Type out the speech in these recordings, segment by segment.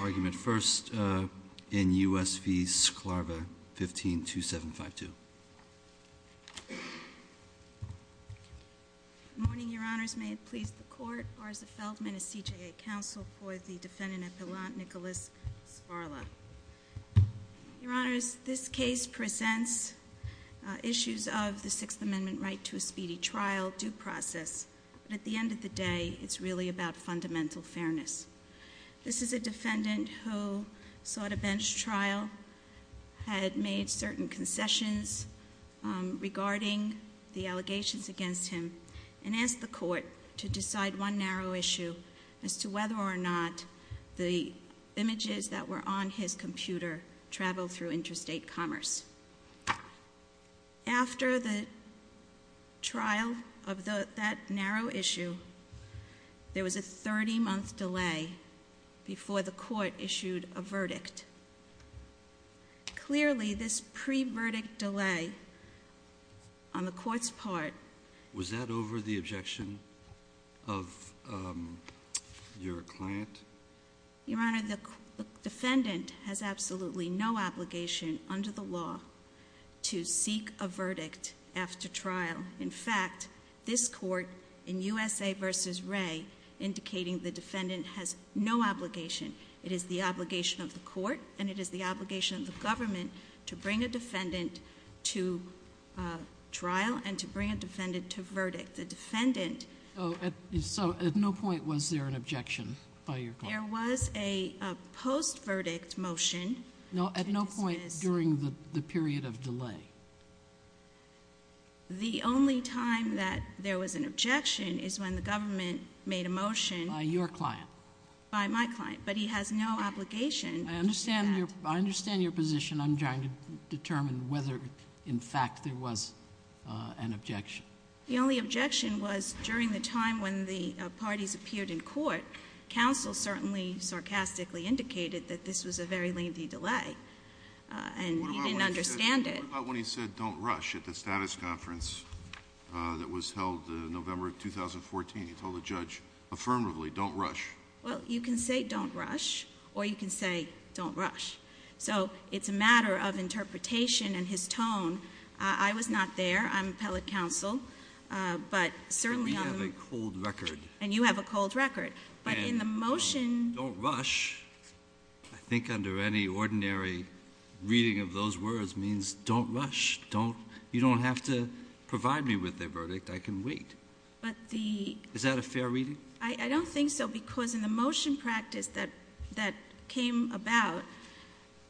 argument first in U.S. v. Sklarva, 15-2752. Good morning, Your Honors. May it please the Court, Arza Feldman of CJA Counsel for the Defendant of the Law, Nicholas Sparla. Your Honors, this case presents issues of the Sixth Amendment right to a speedy trial due process, but at the end of the day, it's really about fundamental fairness. This is a defendant who sought a bench trial, had made certain concessions regarding the allegations against him, and asked the Court to decide one narrow issue as to whether or not the images that were on his computer traveled through interstate This is a 30-month delay before the Court issued a verdict. Clearly, this pre-verdict delay on the Court's part... Was that over the objection of your client? Your Honor, the defendant has absolutely no obligation under the law to seek a verdict after trial. In fact, this Court, in U.S. v. Wray, indicating the defendant has no obligation. It is the obligation of the Court and it is the obligation of the government to bring a defendant to trial and to bring a defendant to verdict. The defendant... So, at no point was there an objection by your client? There was a post-verdict motion to dismiss... The only time that there was an objection is when the government made a motion... By your client? By my client. But he has no obligation to do that. I understand your position. I'm trying to determine whether, in fact, there was an objection. The only objection was during the time when the parties appeared in court. Counsel certainly sarcastically indicated that this was a very lengthy delay, and he didn't understand it. What about when he said, don't rush, at the status conference that was held November 2014? He told the judge affirmatively, don't rush. Well, you can say, don't rush, or you can say, don't rush. So, it's a matter of interpretation and his tone. I was not there. I'm appellate counsel, but certainly... We have a cold record. And you have a cold record. But in the motion... Any ordinary reading of those words means, don't rush. You don't have to provide me with a verdict. I can wait. But the... Is that a fair reading? I don't think so, because in the motion practice that came about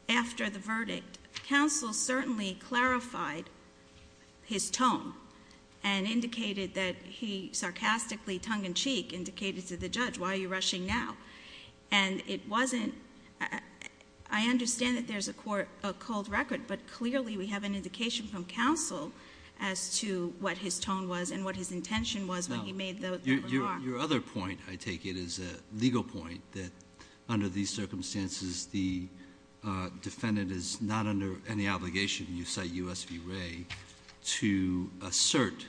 after the verdict, counsel certainly clarified his tone and indicated that he sarcastically, tongue in cheek, indicated to the judge, why are you rushing now? And it wasn't... I understand that there's a cold record, but clearly we have an indication from counsel as to what his tone was and what his intention was when he made that remark. Your other point, I take it, is a legal point, that under these circumstances, the defendant is not under any obligation, and you cite U.S. v. Wray, to assert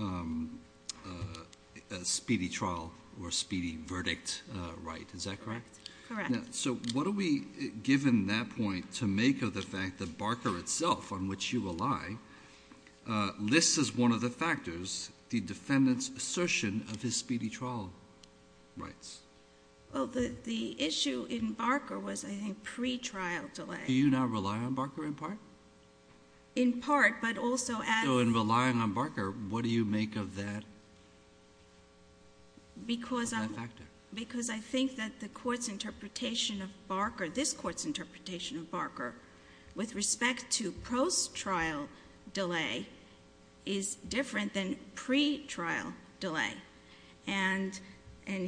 a speedy trial or a speedy verdict right. Is that correct? Correct. So, what do we, given that point, to make of the fact that Barker itself, on which you rely, lists as one of the factors the defendant's assertion of his speedy trial rights? Well, the issue in Barker was, I think, pretrial delay. Do you now rely on Barker in part? In part, but also... So, in relying on Barker, what do you make of that factor? Because I think that the court's interpretation of Barker, this court's interpretation of Barker, with respect to post-trial delay, is different than pretrial delay. And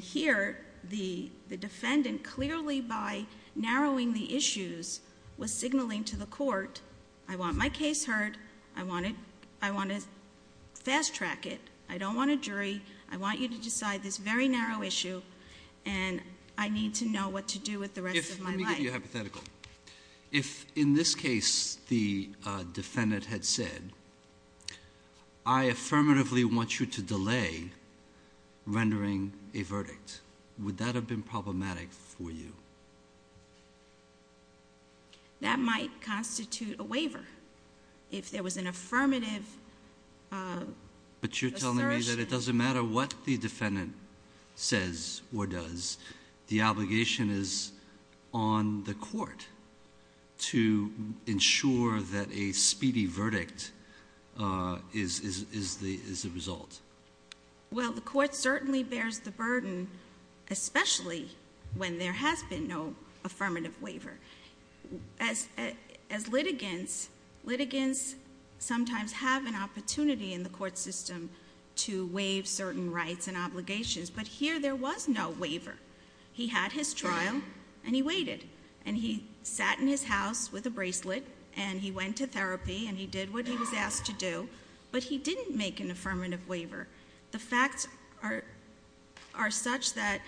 here, the defendant clearly, by narrowing the issues, was signaling to the court, I want my case heard, I want to fast-track it, I don't want a jury, I want you to decide this very narrow issue, and I need to know what to do with the rest of my life. Let me give you a hypothetical. If, in this case, the defendant had said, I affirmatively want you to delay rendering a verdict, would that have been problematic for you? That might constitute a waiver. If there was an affirmative assertion... But you're telling me that it doesn't matter what the defendant says or does, the obligation is on the court to ensure that a speedy verdict is the result? Well, the court certainly bears the burden, especially when there has been no affirmative waiver. As litigants, litigants sometimes have an opportunity in the court system to waive certain rights and obligations. But here, there was no waiver. He had his trial, and he waited. And he sat in his house with a bracelet, and he went to therapy, and he did what he was asked to do. But he didn't make an affirmative waiver. The facts are such that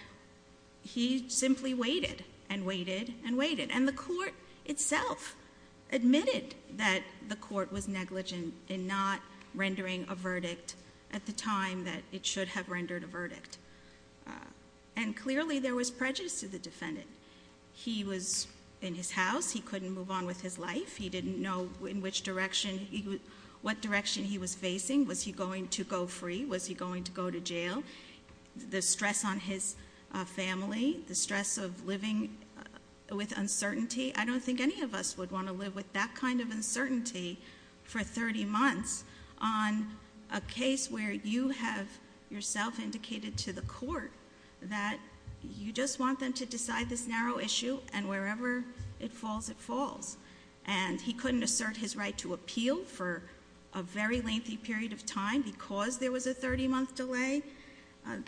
he simply waited, and waited, and waited. And the court itself admitted that the court was negligent in not rendering a verdict at the time that it should have rendered a verdict. And clearly, there was prejudice to the defendant. He was in his house. He couldn't move on with his life. He didn't know what direction he was facing. Was he going to go free? Was he going to go to jail? The stress on his family, the stress of living with uncertainty, I don't think any of us would want to live with that kind of uncertainty for 30 months on a case where you have yourself indicated to the court. That you just want them to decide this narrow issue, and wherever it falls, it falls. And he couldn't assert his right to appeal for a very lengthy period of time because there was a 30 month delay.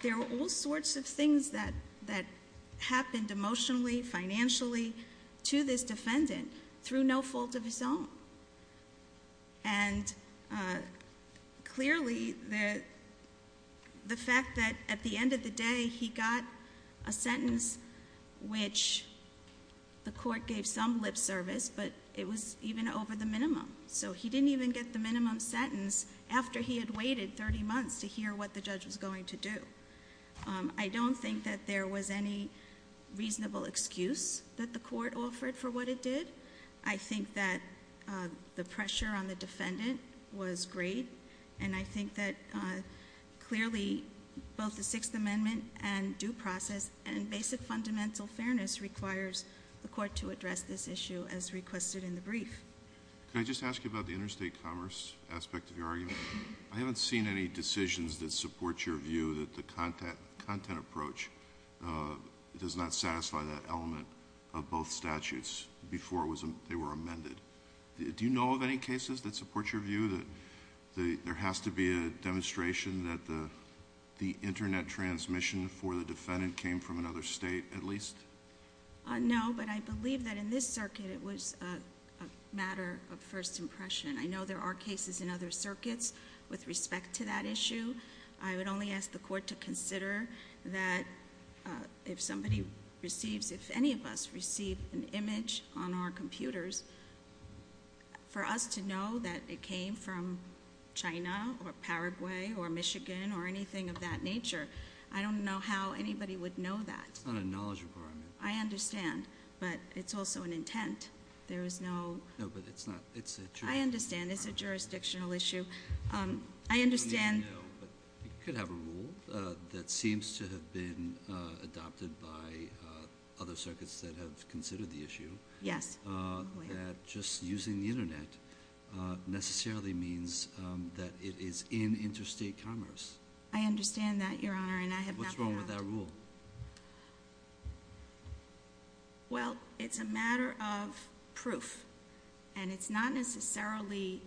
There were all sorts of things that happened emotionally, financially, to this defendant through no fault of his own. And clearly, the fact that at the end of the day, he got a sentence which the court gave some lip service, but it was even over the minimum. So he didn't even get the minimum sentence after he had waited 30 months to hear what the judge was going to do. I don't think that there was any reasonable excuse that the court offered for what it did. I think that the pressure on the defendant was great, and I think that clearly, both the Sixth Amendment and due process and basic fundamental fairness requires the court to address this issue as requested in the brief. Can I just ask you about the interstate commerce aspect of your argument? I haven't seen any decisions that support your view that the content approach does not satisfy that element of both statutes before they were amended. Do you know of any cases that support your view that there has to be a demonstration that the internet transmission for the defendant came from another state at least? No, but I believe that in this circuit, it was a matter of first impression. I know there are cases in other circuits with respect to that issue. I would only ask the court to consider that if somebody receives, if any of us receive an image on our computers, for us to know that it came from China or Paraguay or Michigan or anything of that nature. I don't know how anybody would know that. It's not a knowledge requirement. I understand, but it's also an intent. There is no- No, but it's not, it's a- I understand, it's a jurisdictional issue. I understand- You could have a rule that seems to have been adopted by other circuits that have considered the issue. Yes. That just using the internet necessarily means that it is in interstate commerce. I understand that, Your Honor, and I have not- What's wrong with that rule? Well, it's a matter of proof, and it's not necessarily-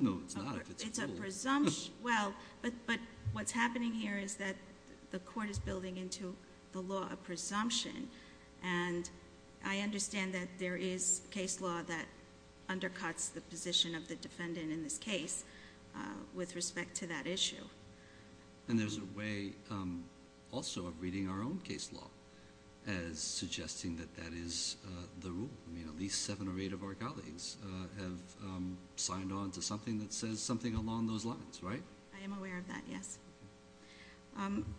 No, it's not. It's a presumption. Well, but what's happening here is that the court is building into the law a presumption, and I understand that there is case law that undercuts the position of the defendant in this case with respect to that issue. And there's a way also of reading our own case law as suggesting that that is the rule. I mean, at least seven or eight of our colleagues have signed on to something that says something along those lines, right? I am aware of that, yes.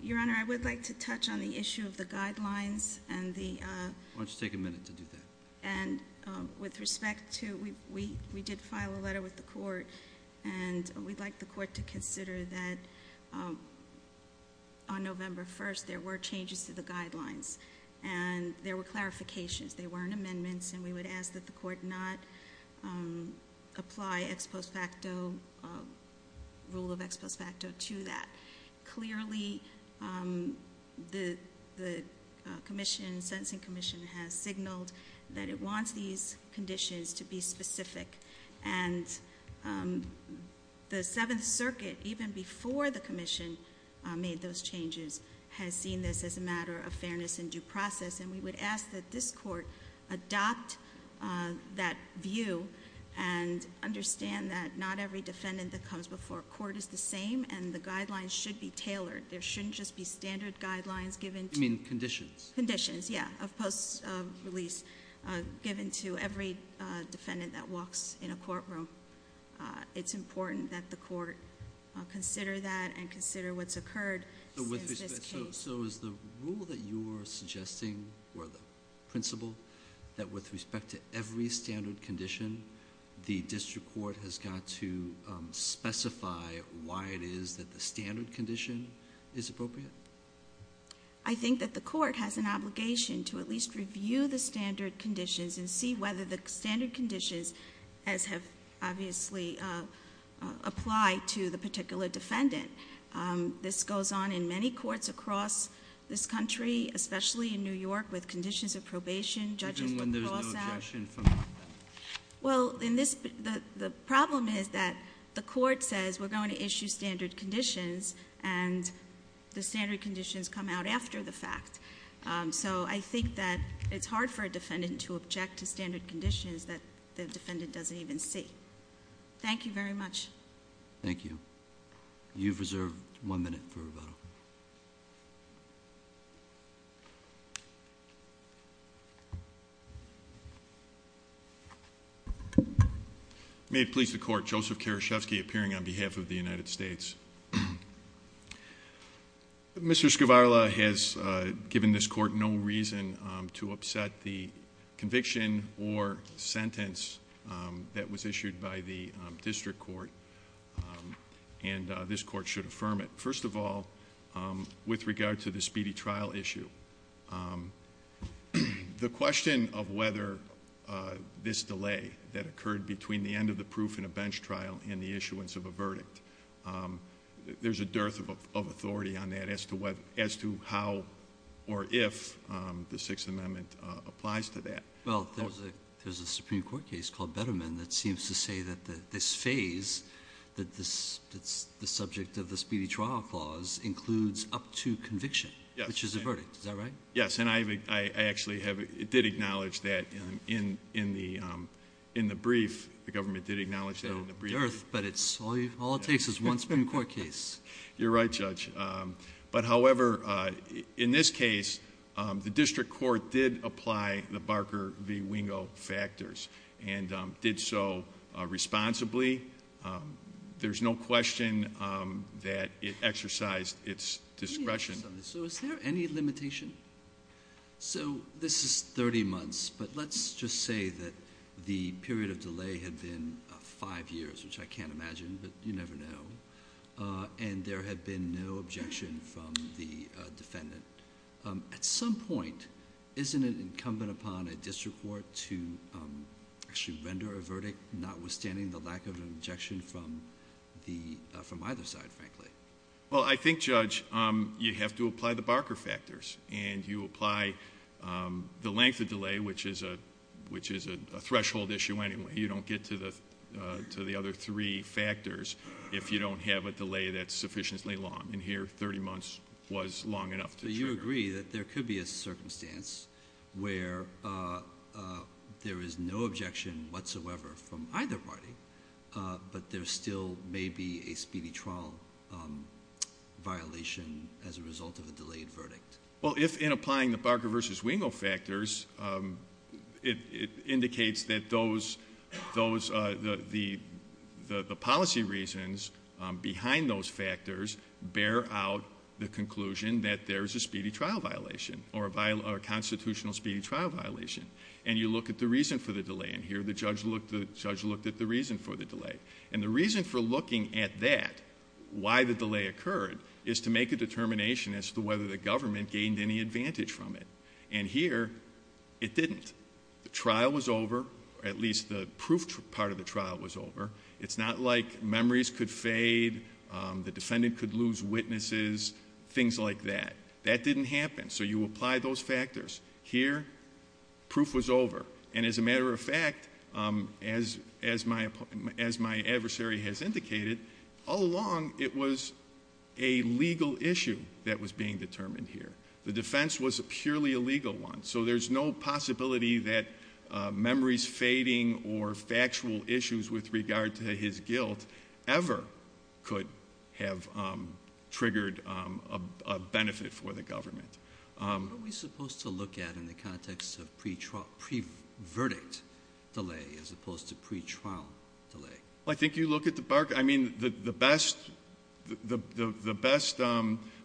Your Honor, I would like to touch on the issue of the guidelines and the- Why don't you take a minute to do that? And with respect to, we did file a letter with the court, and we'd like the court to consider that on November 1st, there were changes to the guidelines, and there were clarifications. They weren't amendments, and we would ask that the court not apply ex post facto, rule of ex post facto to that. Clearly, the commission, sentencing commission, has signaled that it wants these conditions to be specific. And the Seventh Circuit, even before the commission made those changes, has seen this as a matter of fairness and due process. And we would ask that this court adopt that view and understand that not every defendant that comes before court is the same and the guidelines should be tailored. There shouldn't just be standard guidelines given to- You mean conditions? Conditions, yeah, of post release given to every defendant that walks in a courtroom. It's important that the court consider that and consider what's occurred since this case. So is the rule that you are suggesting, or the principle, that with respect to every standard condition, the district court has got to specify why it is that the standard condition is appropriate? I think that the court has an obligation to at least review the standard conditions and see whether the standard conditions, as have obviously applied to the particular defendant. This goes on in many courts across this country, especially in New York, with conditions of probation, judges- Even when there's no objection from- Well, the problem is that the court says we're going to issue standard conditions, and the standard conditions come out after the fact. So I think that it's hard for a defendant to object to standard conditions that the defendant doesn't even see. Thank you very much. Thank you. You've reserved one minute for rebuttal. May it please the court, Joseph Karashevsky, appearing on behalf of the United States. Mr. Scavarla has given this court no reason to upset the conviction or sentence that was issued by the district court, and this court should affirm it. First of all, with regard to the speedy trial issue, the question of whether this delay that occurred between the end of the proof and a bench trial and the issuance of a verdict, there's a dearth of authority on that as to how or if the Sixth Amendment applies to that. Well, there's a Supreme Court case called Betterman that seems to say that this phase, that the subject of the speedy trial clause includes up to conviction, which is a verdict. Is that right? Yes, and I actually did acknowledge that in the brief. The government did acknowledge that in the brief. A dearth, but all it takes is one Supreme Court case. You're right, Judge. But however, in this case, the district court did apply the Barker v. Wingo factors and did so responsibly. There's no question that it exercised its discretion. So is there any limitation? So this is 30 months, but let's just say that the period of delay had been five years, which I can't imagine, but you never know, and there had been no objection from the defendant. At some point, isn't it incumbent upon a district court to actually render a verdict, notwithstanding the lack of an objection from either side, frankly? Well, I think, Judge, you have to apply the Barker factors, and you apply the length of delay, which is a threshold issue anyway. You don't get to the other three factors if you don't have a delay that's sufficiently long. And here, 30 months was long enough to trigger. But you agree that there could be a circumstance where there is no objection whatsoever from either party, but there still may be a speedy trial violation as a result of a delayed verdict. Well, if in applying the Barker v. Wingo factors, it indicates that the policy reasons behind those factors bear out the conclusion that there is a speedy trial violation or a constitutional speedy trial violation, and you look at the reason for the delay in here, the judge looked at the reason for the delay. And the reason for looking at that, why the delay occurred, is to make a determination as to whether the government gained any advantage from it. And here, it didn't. The trial was over, or at least the proof part of the trial was over. It's not like memories could fade, the defendant could lose witnesses, things like that. That didn't happen. So you apply those factors. Here, proof was over. And as a matter of fact, as my adversary has indicated, all along it was a legal issue that was being determined here. The defense was a purely legal one. So there's no possibility that memories fading or factual issues with regard to his guilt ever could have triggered a benefit for the government. What are we supposed to look at in the context of pre-verdict delay as opposed to pre-trial delay? Well, I think you look at the Barker. I mean, the best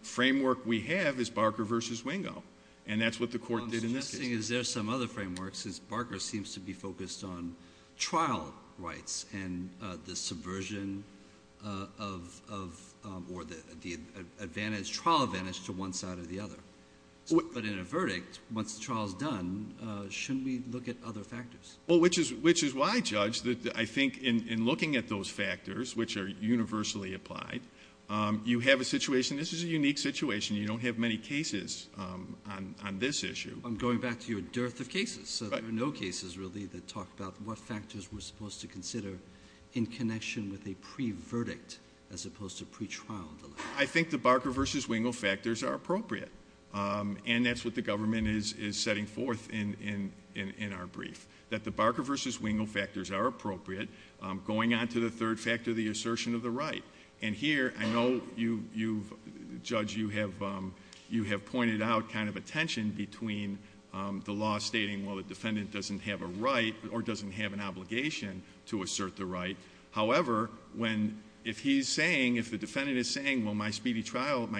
framework we have is Barker v. Wingo, and that's what the court did in this case. Well, I'm suggesting is there some other framework since Barker seems to be focused on trial rights and the subversion of or the trial advantage to one side or the other. But in a verdict, once the trial is done, shouldn't we look at other factors? Well, which is why, Judge, I think in looking at those factors, which are universally applied, you have a situation, this is a unique situation, you don't have many cases on this issue. I'm going back to your dearth of cases. So there are no cases really that talk about what factors we're supposed to consider in connection with a pre-verdict as opposed to pre-trial delay. I think the Barker v. Wingo factors are appropriate, and that's what the government is setting forth in our brief, that the Barker v. Wingo factors are appropriate, going on to the third factor, the assertion of the right. And here, I know, Judge, you have pointed out kind of a tension between the law stating, well, the defendant doesn't have a right or doesn't have an obligation to assert the right. However, if the defendant is saying, well, my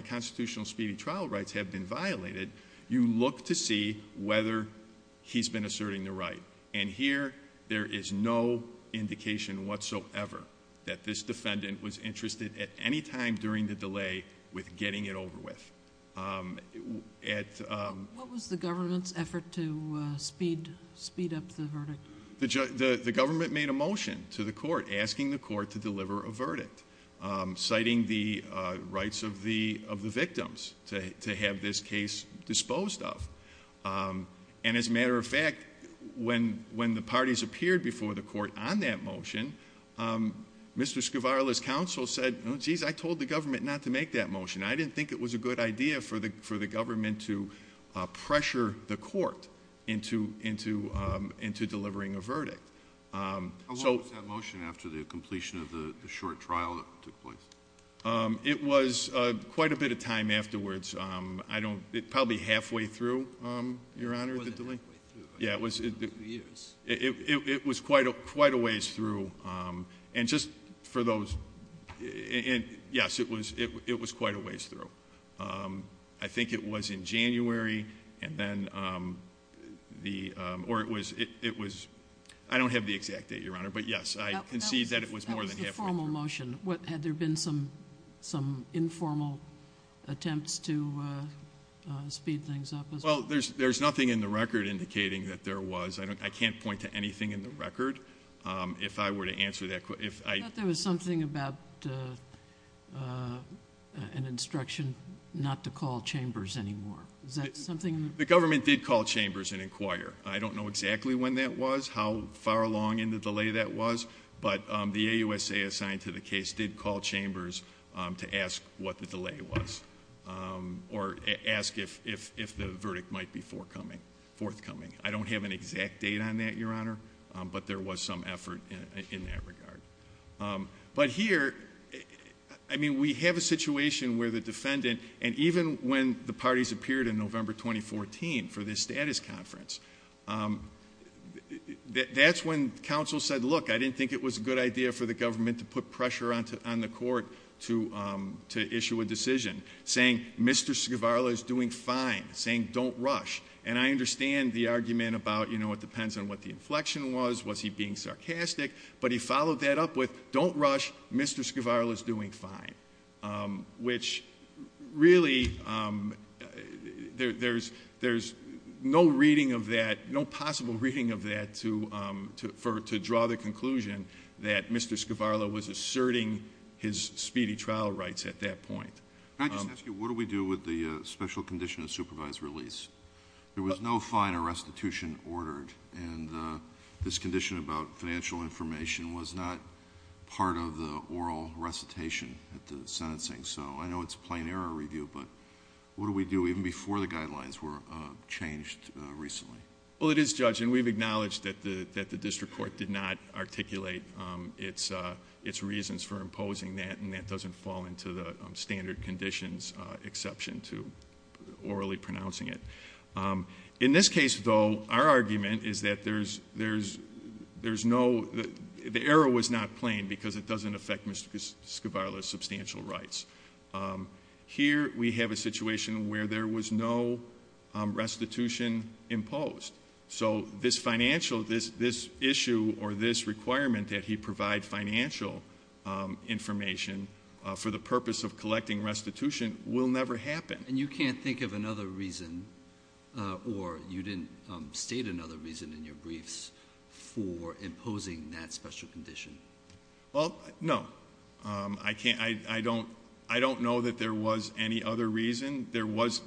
constitutional speedy trial rights have been violated, you look to see whether he's been asserting the right. And here, there is no indication whatsoever that this defendant was interested at any time during the delay with getting it over with. What was the government's effort to speed up the verdict? The government made a motion to the court asking the court to deliver a verdict, citing the rights of the victims to have this case disposed of. And as a matter of fact, when the parties appeared before the court on that motion, Mr. Scavarella's counsel said, geez, I told the government not to make that motion. I didn't think it was a good idea for the government to pressure the court into delivering a verdict. How long was that motion after the completion of the short trial that took place? It was quite a bit of time afterwards. Probably halfway through, Your Honor. It wasn't halfway through. It was quite a ways through. Yes, it was quite a ways through. I think it was in January. I don't have the exact date, Your Honor, but yes, I concede that it was more than halfway through. Had there been some informal attempts to speed things up? Well, there's nothing in the record indicating that there was. I can't point to anything in the record if I were to answer that question. I thought there was something about an instruction not to call chambers anymore. Is that something? The government did call chambers and inquire. I don't know exactly when that was, how far along in the delay that was, but the AUSA assigned to the case did call chambers to ask what the delay was or ask if the verdict might be forthcoming. I don't have an exact date on that, Your Honor, but there was some effort in that regard. But here, I mean, we have a situation where the defendant, and even when the parties appeared in November 2014 for this status conference, that's when counsel said, look, I didn't think it was a good idea for the government to put pressure on the court to issue a decision, saying, Mr. Skivarla is doing fine, saying don't rush. And I understand the argument about, you know, it depends on what the inflection was, was he being sarcastic? But he followed that up with, don't rush, Mr. Skivarla is doing fine, which really, there's no reading of that, no possible reading of that to draw the conclusion that Mr. Skivarla was asserting his speedy trial rights at that point. Can I just ask you, what do we do with the special condition of supervised release? There was no fine or restitution ordered, and this condition about financial information was not part of the oral recitation at the sentencing. So I know it's a plain error review, but what do we do even before the guidelines were changed recently? Well, it is, Judge, and we've acknowledged that the district court did not articulate its reasons for imposing that, and that doesn't fall into the standard conditions exception to orally pronouncing it. In this case, though, our argument is that there's no, the error was not plain because it doesn't affect Mr. Skivarla's substantial rights. Here we have a situation where there was no restitution imposed. So this financial, this issue or this requirement that he provide financial information for the purpose of collecting restitution will never happen. And you can't think of another reason, or you didn't state another reason in your briefs for imposing that special condition? Well, no. I can't, I don't know that there was any other reason. There was,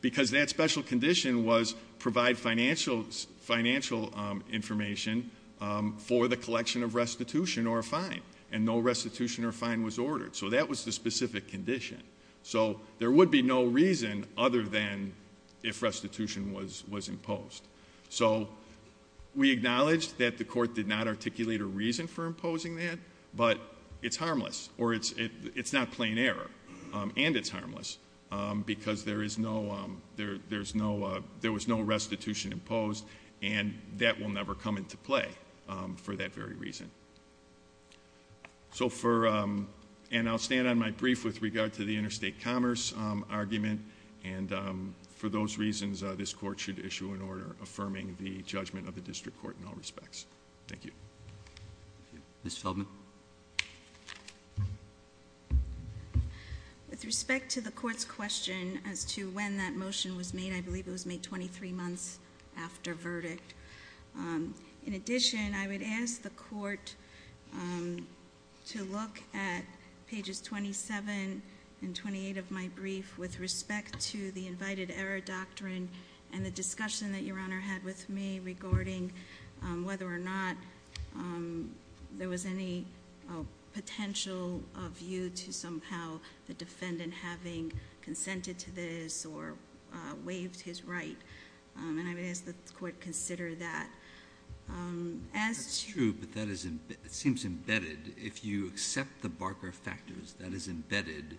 because that special condition was provide financial information for the collection of restitution or a fine, and no restitution or fine was ordered, so that was the specific condition. So there would be no reason other than if restitution was imposed. So we acknowledge that the court did not articulate a reason for imposing that, but it's harmless, or it's not plain error, and it's harmless, because there is no, there was no restitution imposed, and that will never come into play for that very reason. So for, and I'll stand on my brief with regard to the interstate commerce argument, and for those reasons this court should issue an order affirming the judgment of the district court in all respects. Thank you. Ms. Feldman. With respect to the court's question as to when that motion was made, I believe it was made 23 months after verdict. In addition, I would ask the court to look at pages 27 and 28 of my brief with respect to the invited error doctrine and the discussion that your honor had with me regarding whether or not there was any potential of you to somehow the defendant having consented to this or waived his right. And I would ask that the court consider that. As to- That's true, but that is, it seems embedded. If you accept the Barker factors, that is embedded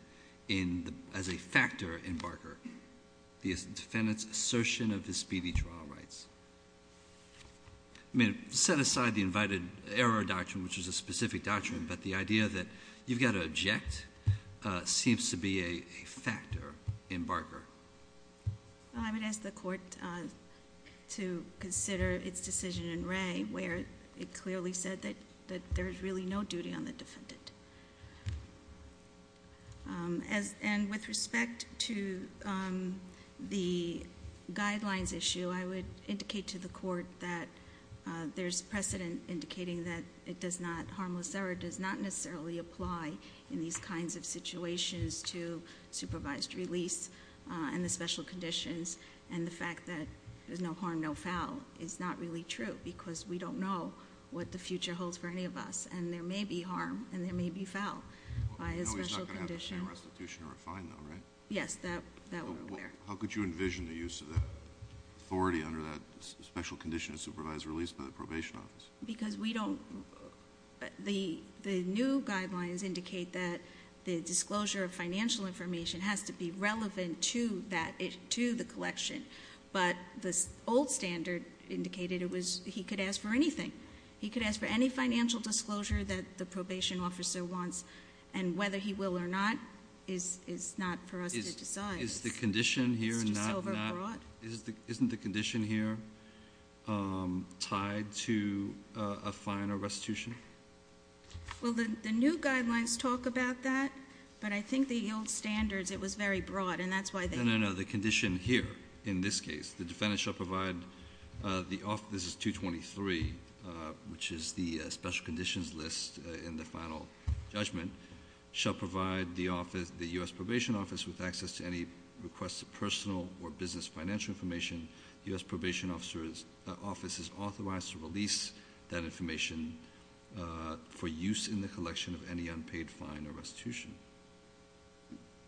as a factor in Barker. The defendant's assertion of his speedy trial rights. I mean, set aside the invited error doctrine, which is a specific doctrine, but the idea that you've got to object seems to be a factor in Barker. I would ask the court to consider its decision in Ray, where it clearly said that there's really no duty on the defendant. And with respect to the guidelines issue, I would indicate to the court that there's precedent indicating that it does not, necessarily apply in these kinds of situations to supervised release and the special conditions. And the fact that there's no harm, no foul is not really true, because we don't know what the future holds for any of us. And there may be harm and there may be foul by a special condition. No, he's not going to have to pay a restitution or a fine, though, right? Yes, that would be fair. How could you envision the use of that authority under that special condition of supervised release by the probation office? Because we don't, the new guidelines indicate that the disclosure of financial information has to be relevant to the collection. But the old standard indicated he could ask for anything. He could ask for any financial disclosure that the probation officer wants. And whether he will or not is not for us to decide. Isn't the condition here tied to a fine or restitution? Well, the new guidelines talk about that, but I think the old standards, it was very broad, and that's why they need to be tied. No, no, no. The condition here, in this case, the defendant shall provide the office, this is 223, which is the special conditions list in the final judgment, shall provide the U.S. Probation Office with access to any requested personal or business financial information. The U.S. Probation Office is authorized to release that information for use in the collection of any unpaid fine or restitution.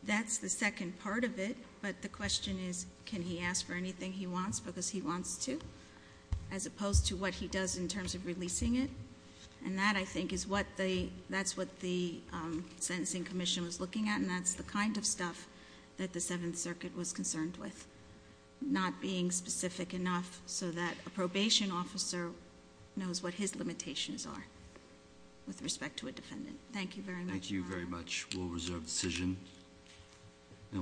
That's the second part of it. But the question is, can he ask for anything he wants because he wants to, as opposed to what he does in terms of releasing it? And that, I think, is what the Sentencing Commission was looking at, and that's the kind of stuff that the Seventh Circuit was concerned with, not being specific enough so that a probation officer knows what his limitations are with respect to a defendant. Thank you very much. Thank you very much. We'll reserve the decision.